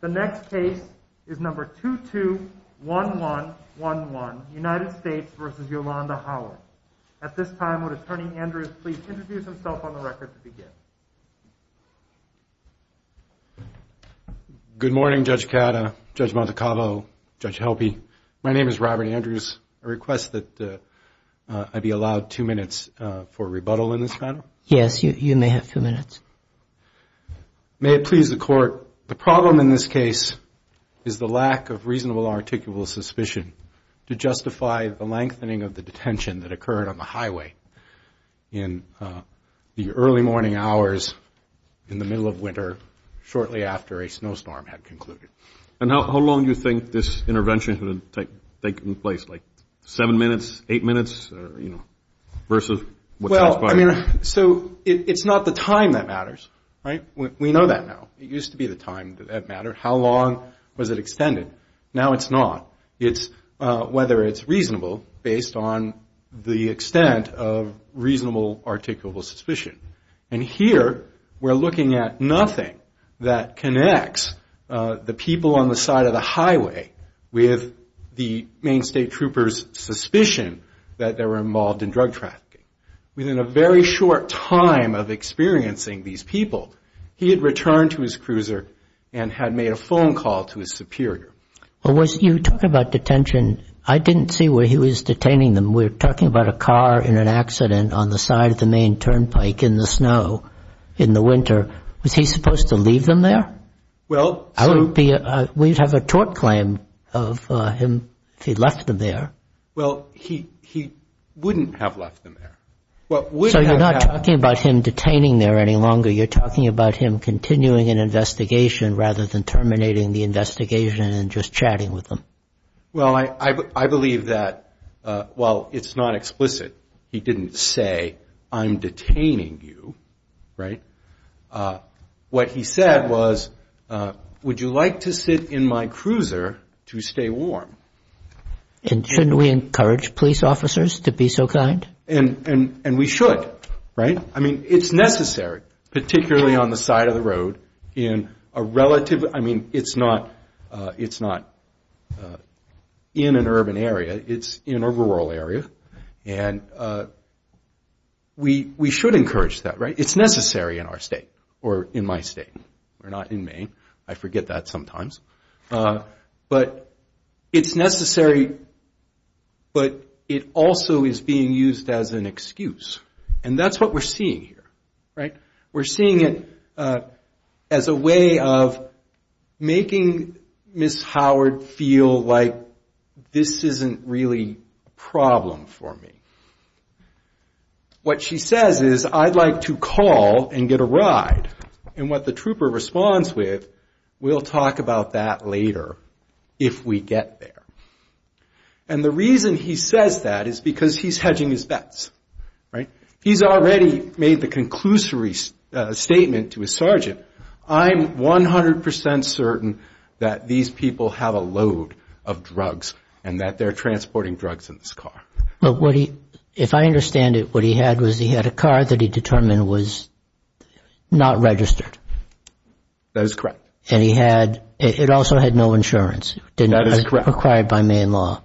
At this time, would Attorney Andrews please introduce himself on the record to begin? Good morning, Judge Cata, Judge Montecavo, Judge Helpe. My name is Robert Andrews. I request that I be allowed two minutes for rebuttal in this panel. Yes, you may have two minutes. May it please the Court, the problem in this case is the lack of reasonable or articulable suspicion to justify the lengthening of the detention that occurred on the highway in the early morning hours in the middle of winter shortly after a snowstorm had concluded. And how long do you think this intervention should have taken place, like seven minutes, eight minutes, or, you know, versus what time it started? I mean, so it's not the time that matters, right? We know that now. It used to be the time that mattered. How long was it extended? Now it's not. It's whether it's reasonable based on the extent of reasonable articulable suspicion. And here we're looking at nothing that connects the people on the side of the highway with the main state troopers' suspicion that they were involved in drug trafficking. Within a very short time of experiencing these people, he had returned to his cruiser and had made a phone call to his superior. Well, you talk about detention. I didn't see where he was detaining them. We're talking about a car in an accident on the side of the main turnpike in the snow in the winter. Was he supposed to leave them there? Well, so – I would be – we'd have a tort claim of him if he left them there. Well, he wouldn't have left them there. So you're not talking about him detaining there any longer. You're talking about him continuing an investigation rather than terminating the investigation and just chatting with them. Well, I believe that while it's not explicit, he didn't say, I'm detaining you, right? What he said was, would you like to sit in my cruiser to stay warm? And shouldn't we encourage police officers to be so kind? And we should, right? I mean, it's necessary, particularly on the side of the road in a relative – I mean, it's not in an urban area. It's in a rural area. And we should encourage that, right? It's necessary in our state or in my state. We're not in Maine. I forget that sometimes. But it's necessary, but it also is being used as an excuse. And that's what we're seeing here, right? We're seeing it as a way of making Ms. Howard feel like this isn't really a problem for me. What she says is, I'd like to call and get a ride. And what the trooper responds with, we'll talk about that later if we get there. And the reason he says that is because he's hedging his bets, right? He's already made the conclusory statement to his sergeant, I'm 100% certain that these people have a load of drugs and that they're transporting drugs in this car. But what he – if I understand it, what he had was he had a car that he determined was not registered. That is correct. And he had – it also had no insurance. That is correct. It was required by Maine law.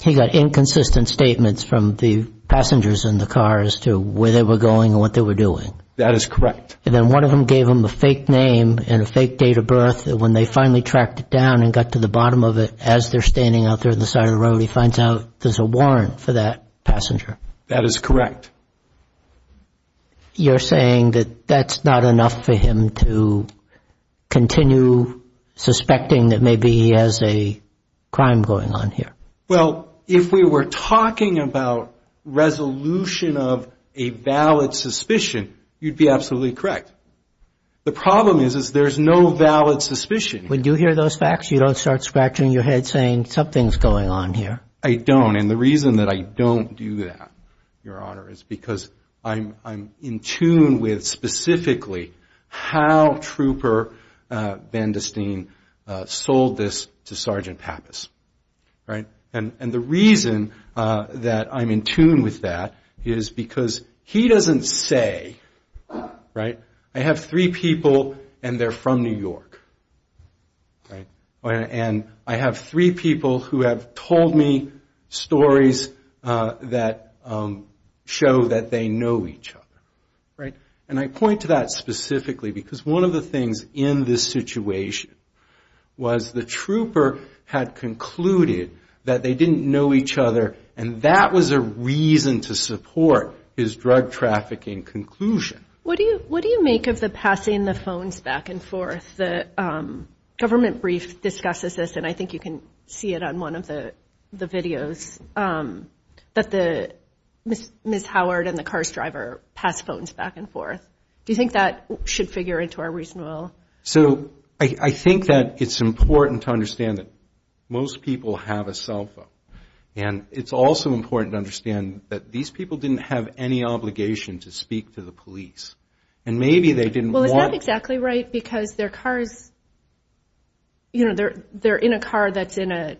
He got inconsistent statements from the passengers in the car as to where they were going and what they were doing. That is correct. And then one of them gave them a fake name and a fake date of birth. And when they finally tracked it down and got to the bottom of it, as they're standing out there on the side of the road, he finds out there's a warrant for that passenger. That is correct. You're saying that that's not enough for him to continue suspecting that maybe he has a crime going on here? Well, if we were talking about resolution of a valid suspicion, you'd be absolutely correct. The problem is, is there's no valid suspicion. When you hear those facts, you don't start scratching your head saying, something's going on here. I don't. And the reason that I don't do that, Your Honor, is because I'm in tune with specifically how Trooper Van De Steen sold this to Sergeant Pappas, right? And the reason that I'm in tune with that is because he doesn't say, right, I have three people and they're from New York, right? And I have three people who have told me stories that show that they know each other, right? And I point to that specifically because one of the things in this situation was the trooper had concluded that they didn't know each other, and that was a reason to support his drug trafficking conclusion. What do you make of the passing the phones back and forth? The government brief discusses this, and I think you can see it on one of the videos, that the Ms. Howard and the car's driver pass phones back and forth. Do you think that should figure into our reasonableness? So, I think that it's important to understand that most people have a cell phone. And it's also important to understand that these people didn't have any obligation to speak to the police. And maybe they didn't want to. Well, is that exactly right? Because their car is, you know, they're in a car that's in a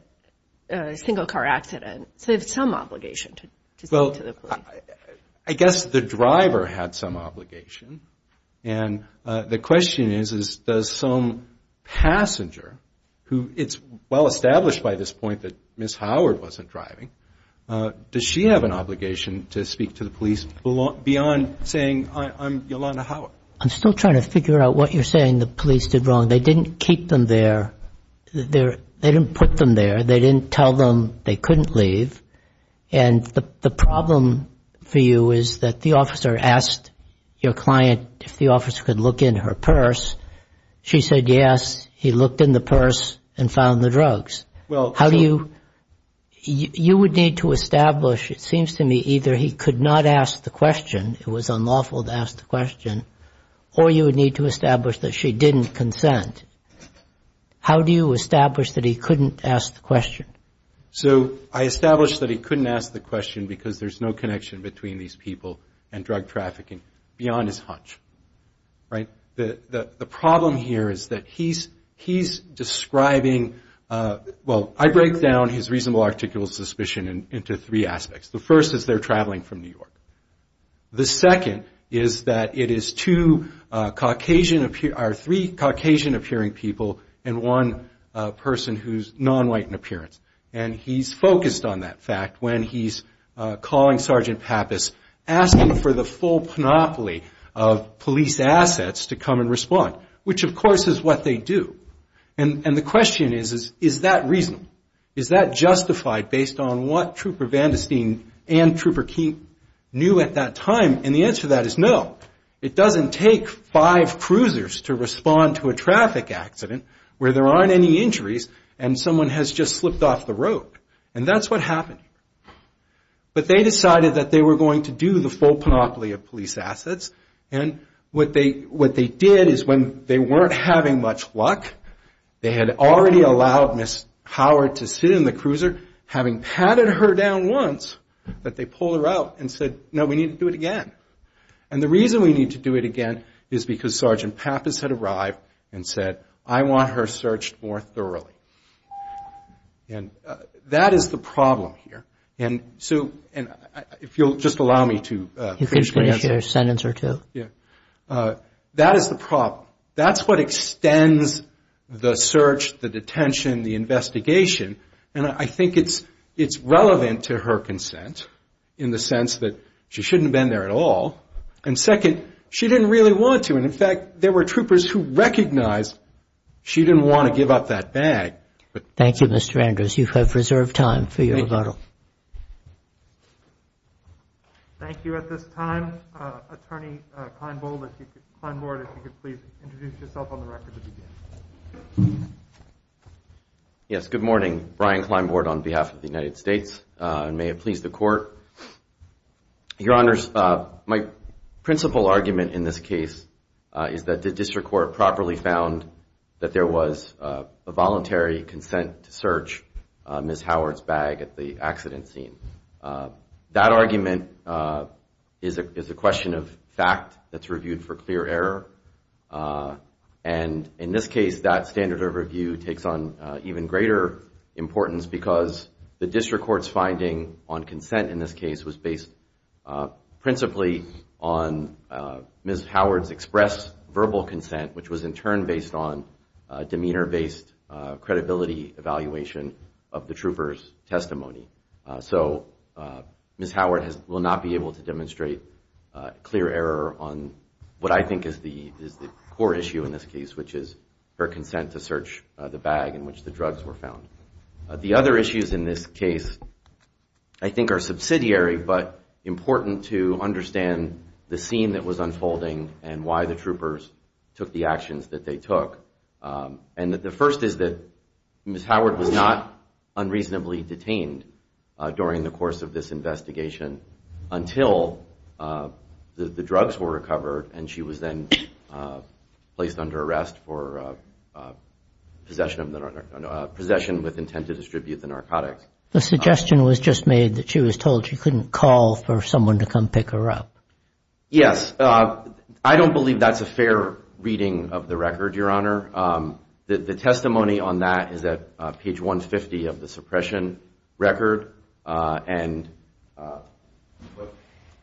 single car accident. So, they have some obligation to speak to the police. Well, I guess the driver had some obligation. And the question is, does some passenger who it's well established by this point that Ms. Howard wasn't driving, does she have an obligation to speak to the police beyond saying, I'm Yolanda Howard? I'm still trying to figure out what you're saying the police did wrong. They didn't keep them there. They didn't put them there. They didn't tell them they couldn't leave. And the problem for you is that the officer asked your client if the officer could look in her purse. She said yes. He looked in the purse and found the drugs. How do you – you would need to establish, it seems to me, either he could not ask the question, it was unlawful to ask the question, or you would need to establish that she didn't consent. How do you establish that he couldn't ask the question? So, I established that he couldn't ask the question because there's no connection between these people and drug trafficking beyond his hunch. Right? The problem here is that he's describing – well, I break down his reasonable articulable suspicion into three aspects. The first is they're traveling from New York. The second is that it is two Caucasian – or three Caucasian-appearing people and one person who's non-white in appearance. And he's focused on that fact when he's calling Sergeant Pappas, asking for the full panoply of police assets to come and respond, which of course is what they do. And the question is, is that reasonable? Is that justified based on what Trooper Vandersteen and Trooper Keene knew at that time? And the answer to that is no. It doesn't take five cruisers to respond to a traffic accident where there aren't any injuries and someone has just slipped off the road. And that's what happened. But they decided that they were going to do the full panoply of police assets. And what they did is when they weren't having much luck, they had already allowed Ms. Howard to sit in the cruiser, having patted her down once, that they pulled her out and said, no, we need to do it again. And the reason we need to do it again is because Sergeant Pappas had arrived and said, I want her searched more thoroughly. And that is the problem here. And so – and if you'll just allow me to finish my answer. You could finish your sentence or two. Yeah. That is the problem. That's what extends the search, the detention, the investigation. And I think it's relevant to her consent in the sense that she shouldn't have been there at all. And second, she didn't really want to. And in fact, there were troopers who recognized she didn't want to give up that bag. Thank you, Mr. Andrews. You have reserved time for your rebuttal. Thank you. Thank you. At this time, Attorney Kleinbold, if you could – Kleinbord, if you could please introduce yourself on the record to begin. Yes, good morning. Brian Kleinbord on behalf of the United States. And may it please the Court. Your Honors, my principal argument in this case is that the District Court properly found that there was a voluntary consent to search Ms. Howard's bag at the accident scene. That argument is a question of fact that's reviewed for clear error. And in this case, that standard of review takes on even greater importance because the District Court's finding on consent in this case was based principally on Ms. Howard's express verbal consent, which was in turn based on demeanor-based credibility evaluation of the trooper's testimony. So Ms. Howard will not be able to demonstrate clear error on what I think is the core issue in this case, which is her consent to search the bag in which the drugs were found. The other issues in this case I think are subsidiary, but important to understand the scene that was unfolding and why the troopers took the actions that they took. And the first is that Ms. Howard was not unreasonably detained during the course of this investigation until the drugs were recovered and she was then placed under arrest for possession with intent to distribute the narcotics. The suggestion was just made that she was told she couldn't call for someone to come pick her up. Yes. I don't believe that's a fair reading of the record, Your Honor. The testimony on that is at page 150 of the suppression record. And what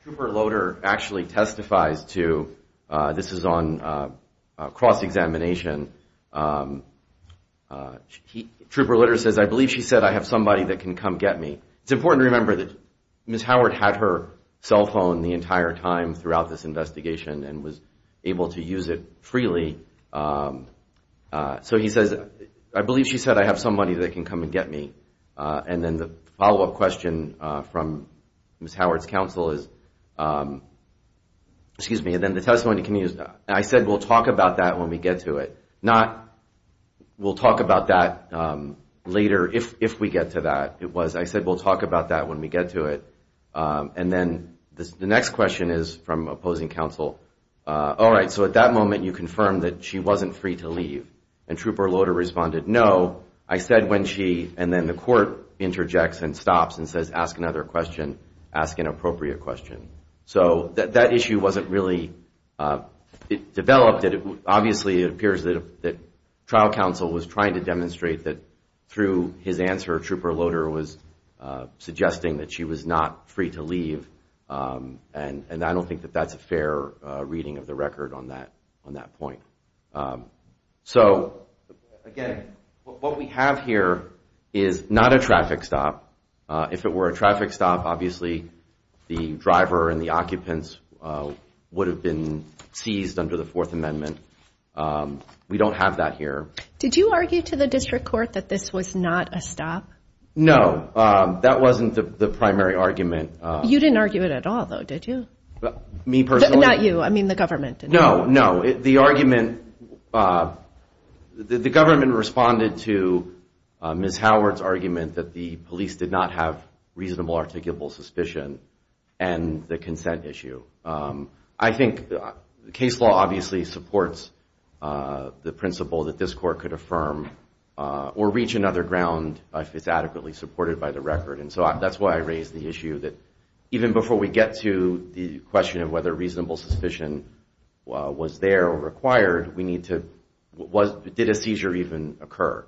Trooper Loader actually testifies to, this is on cross-examination, Trooper Loader says, I believe she said I have somebody that can come get me. It's important to remember that Ms. Howard had her cell phone the entire time throughout this investigation and was able to use it freely. So he says, I believe she said I have somebody that can come and get me. And then the follow-up question from Ms. Howard's counsel is, excuse me, and then the testimony continues, I said we'll talk about that when we get to it. Not, we'll talk about that later if we get to that. It was, I said we'll talk about that when we get to it. And then the next question is from opposing counsel, all right, so at that moment you confirmed that she wasn't free to leave. And Trooper Loader responded, no. I said when she, and then the court interjects and stops and says ask another question, ask an appropriate question. So that issue wasn't really developed. Obviously, it appears that trial counsel was trying to demonstrate that through his answer Trooper Loader was suggesting that she was not free to leave. And I don't think that that's a fair reading of the record on that point. So again, what we have here is not a traffic stop. If it were a traffic stop, obviously the driver and the occupants would have been seized under the Fourth Amendment. We don't have that here. Did you argue to the district court that this was not a stop? No, that wasn't the primary argument. You didn't argue it at all, though, did you? Me personally? Not you, I mean the government. No, no, the argument, the government responded to Ms. Howard's argument that the police did not have reasonable articulable suspicion and the consent issue. I think the case law obviously supports the principle that this court could affirm or reach another ground if it's adequately supported by the record. And so that's why I raised the issue that even before we get to the question of whether reasonable suspicion was there or required, we need to, did a seizure even occur?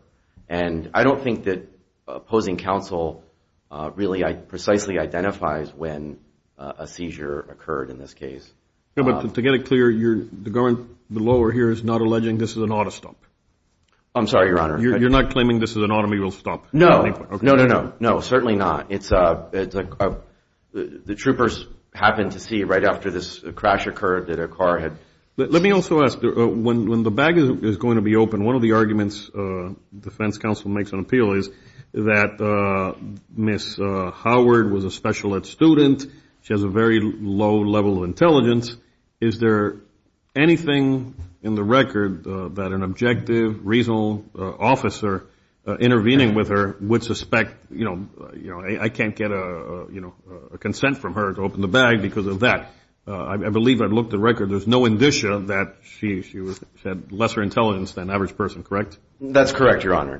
And I don't think that opposing counsel really precisely identifies when a seizure occurred in this case. Yeah, but to get it clear, the lower here is not alleging this is an auto stop? I'm sorry, Your Honor. You're not claiming this is an automobile stop? No, no, no, no, certainly not. The troopers happened to see right after this crash occurred that a car had... Let me also ask, when the bag is going to be opened, one of the arguments defense counsel makes on appeal is that Ms. Howard was a special ed student. She has a very low level of intelligence. Is there anything in the record that an objective, reasonable officer intervening with her would suspect, you know, I can't get a consent from her to open the bag because of that? I believe I've looked at the record. There's no indicia that she had lesser intelligence than an average person, correct? That's correct, Your Honor.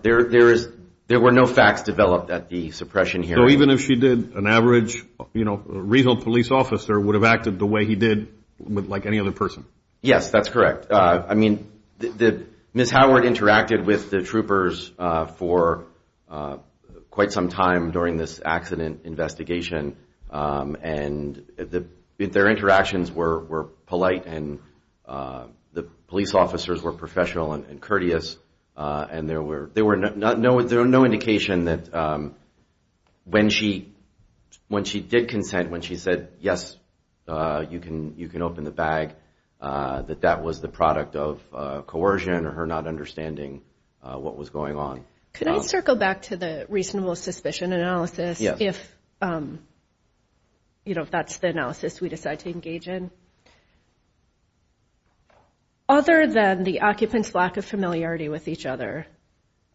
There were no facts developed at the suppression hearing. So even if she did, an average, you know, reasonable police officer would have acted the way he did like any other person? Yes, that's correct. I mean, Ms. Howard interacted with the troopers for quite some time during this accident investigation, and their interactions were polite and the police officers were professional and courteous, and there were no indication that when she did consent, when she said, yes, you can open the bag, that that was the product of coercion or her not understanding what was going on. Can I circle back to the reasonable suspicion analysis if that's the analysis we decide to engage in? Other than the occupant's lack of familiarity with each other,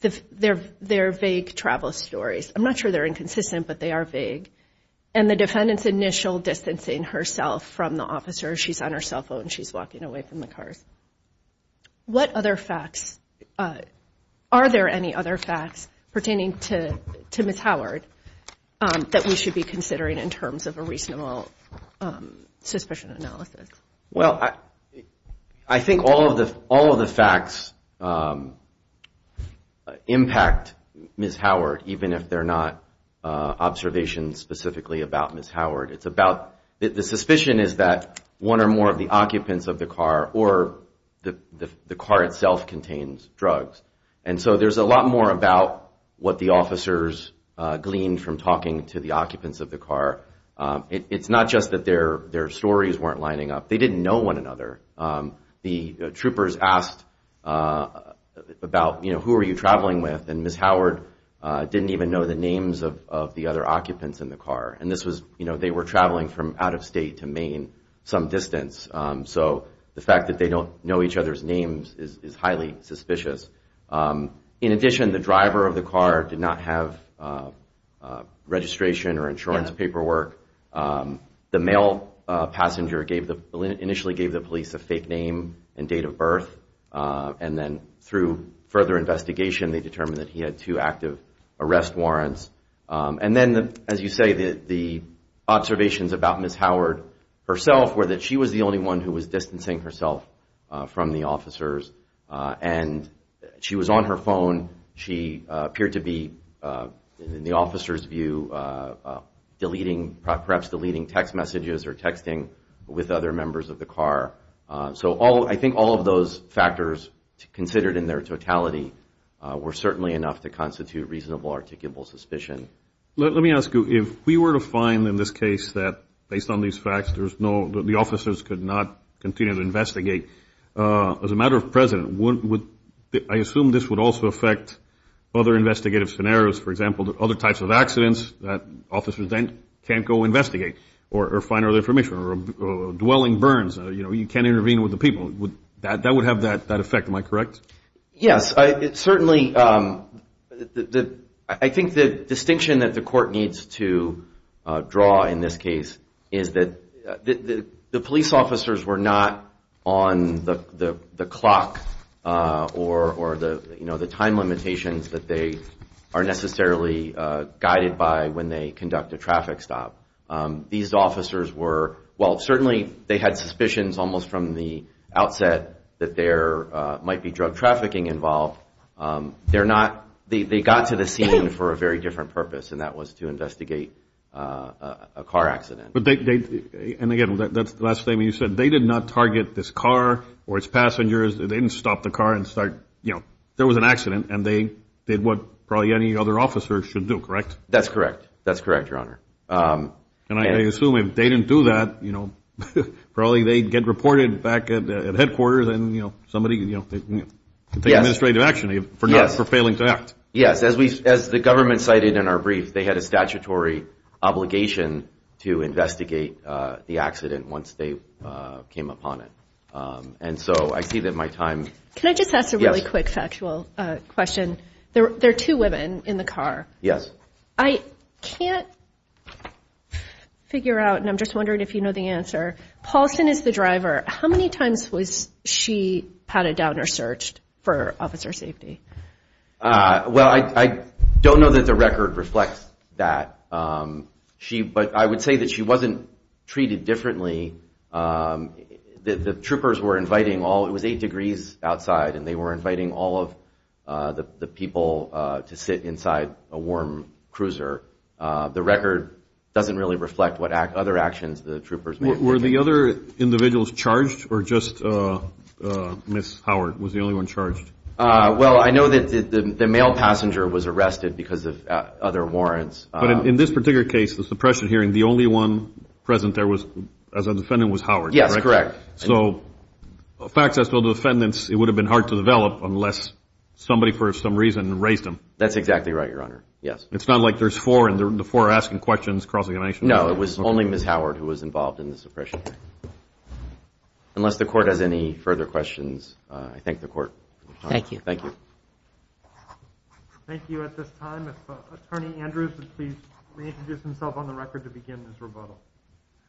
their vague travel stories, I'm not sure they're inconsistent, but they are vague, and the defendant's initial distancing herself from the officer. She's on her cell phone. She's walking away from the cars. What other facts, are there any other facts pertaining to Ms. Howard that we should be considering in terms of a reasonable suspicion analysis? Well, I think all of the facts impact Ms. Howard even if they're not observations specifically about Ms. Howard. It's about the suspicion is that one or more of the occupants of the car or the car itself contains drugs, and so there's a lot more about what the officers gleaned from talking to the occupants of the car. It's not just that their stories weren't lining up. They didn't know one another. The troopers asked about, you know, who are you traveling with, and Ms. Howard didn't even know the names of the other occupants in the car, and this was, you know, they were traveling from out-of-state to Maine some distance, so the fact that they don't know each other's names is highly suspicious. In addition, the driver of the car did not have registration or insurance paperwork. The male passenger initially gave the police a fake name and date of birth, and then through further investigation, they determined that he had two active arrest warrants, and then, as you say, the observations about Ms. Howard herself were that she was the only one who was distancing herself from the officers, and she was on her phone. She appeared to be, in the officer's view, deleting, perhaps deleting text messages or texting with other members of the car, considered in their totality were certainly enough to constitute a reasonable, articulable suspicion. Let me ask you, if we were to find in this case that, based on these facts, the officers could not continue to investigate, as a matter of precedent, I assume this would also affect other investigative scenarios, for example, other types of accidents that officers then can't go investigate or find other information, or dwelling burns, you know, you can't intervene with the people. That would have that effect, am I correct? Yes. Certainly, I think the distinction that the court needs to draw in this case is that the police officers were not on the clock or the time limitations that they are necessarily guided by when they conduct a traffic stop. These officers were, well, certainly they had suspicions almost from the outset that there might be drug trafficking involved. They're not, they got to the scene for a very different purpose, and that was to investigate a car accident. But they, and again, that's the last thing, you said they did not target this car or its passengers, they didn't stop the car and start, you know, there was an accident and they did what probably any other officer should do, correct? That's correct, that's correct, Your Honor. And I assume if they didn't do that, you know, probably they'd get reported back at headquarters and, you know, somebody, you know, take administrative action for not, for failing to act. Yes, as we, as the government cited in our brief, they had a statutory obligation to investigate the accident once they came upon it. And so I see that my time... Can I just ask a really quick factual question? There are two women in the car. Yes. I can't figure out, and I'm just wondering if you know the answer, Paulson is the driver. How many times was she patted down or searched for officer safety? Well, I don't know that the record reflects that. But I would say that she wasn't treated differently. The troopers were inviting all, it was eight degrees outside, and they were inviting all of the people to sit inside a warm cruiser. The record doesn't really reflect what other actions the troopers made. Were the other individuals charged or just Ms. Howard was the only one charged? Well, I know that the male passenger was arrested because of other warrants. But in this particular case, the suppression hearing, the only one present there was, as a defendant, was Howard, correct? Yes, correct. So facts as to the defendants, it would have been hard to develop unless somebody for some reason raised them. That's exactly right, Your Honor. Yes. It's not like there's four and the four asking questions crossing the nation. No, it was only Ms. Howard who was involved in the suppression hearing. Unless the court has any further questions, I thank the court. Thank you. Thank you. Thank you. At this time, if Attorney Andrews would please reintroduce himself on the record to begin this rebuttal.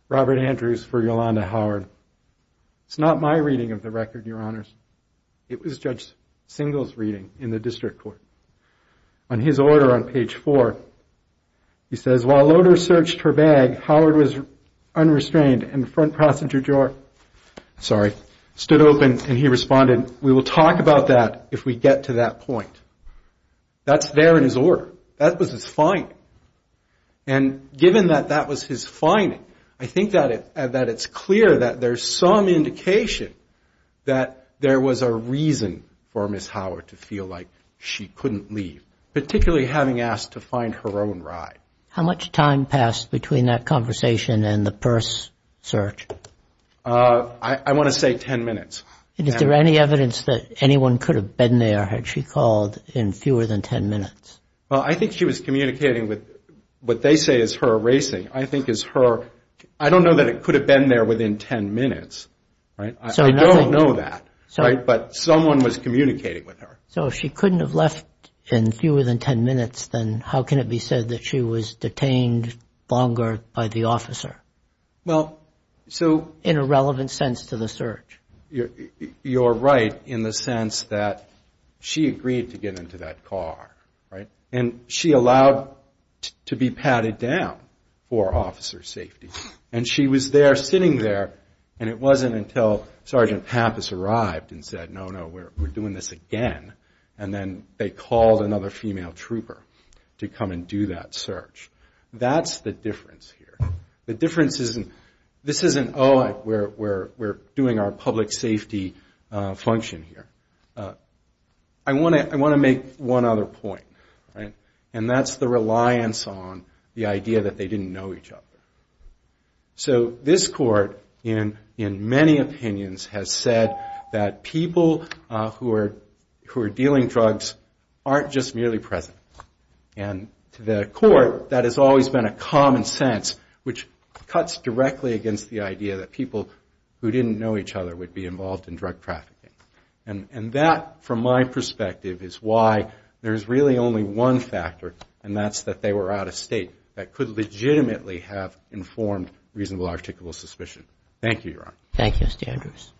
Robert Andrews for Yolanda Howard. It's not my reading of the record, Your Honors. It was Judge Singel's reading in the district court. On his order on page four, he says, while loaders searched her bag, Howard was unrestrained and front passenger drawer, sorry, stood open and he responded, we will talk about that if we get to that point. That's there in his order. That was his finding. And given that that was his finding, I think that it's clear that there's some indication that there was a reason for Ms. Howard to feel like she couldn't leave, particularly having asked to find her own ride. How much time passed between that conversation and the purse search? I want to say ten minutes. Is there any evidence that anyone could have been there had she called in fewer than ten minutes? Well, I think she was communicating with what they say is her erasing. I think is her, I don't know that it could have been there within ten minutes. I don't know that. But someone was communicating with her. So if she couldn't have left in fewer than ten minutes, then how can it be said that she was detained longer by the officer? Well, so... In a relevant sense to the search? You're right in the sense that she agreed to get into that car, right? And she allowed to be padded down for officer safety. And she was there sitting there and it wasn't until Sergeant Pappas arrived and said, no, no, we're doing this again. And then they called another female trooper to come and do that search. That's the difference here. This isn't, oh, we're doing our public safety function here. I want to make one other point. And that's the reliance on the idea that they didn't know each other. So this court in many opinions has said that people who are dealing drugs aren't just merely present. And to the court that has always been a common sense which cuts directly against the idea that people who didn't know each other would be involved in drug trafficking. And that from my perspective is why there's really only one factor and that's that they were out of state that could legitimately have informed reasonable articulable suspicion. Thank you, Your Honor. Thank you, Mr. Andrews.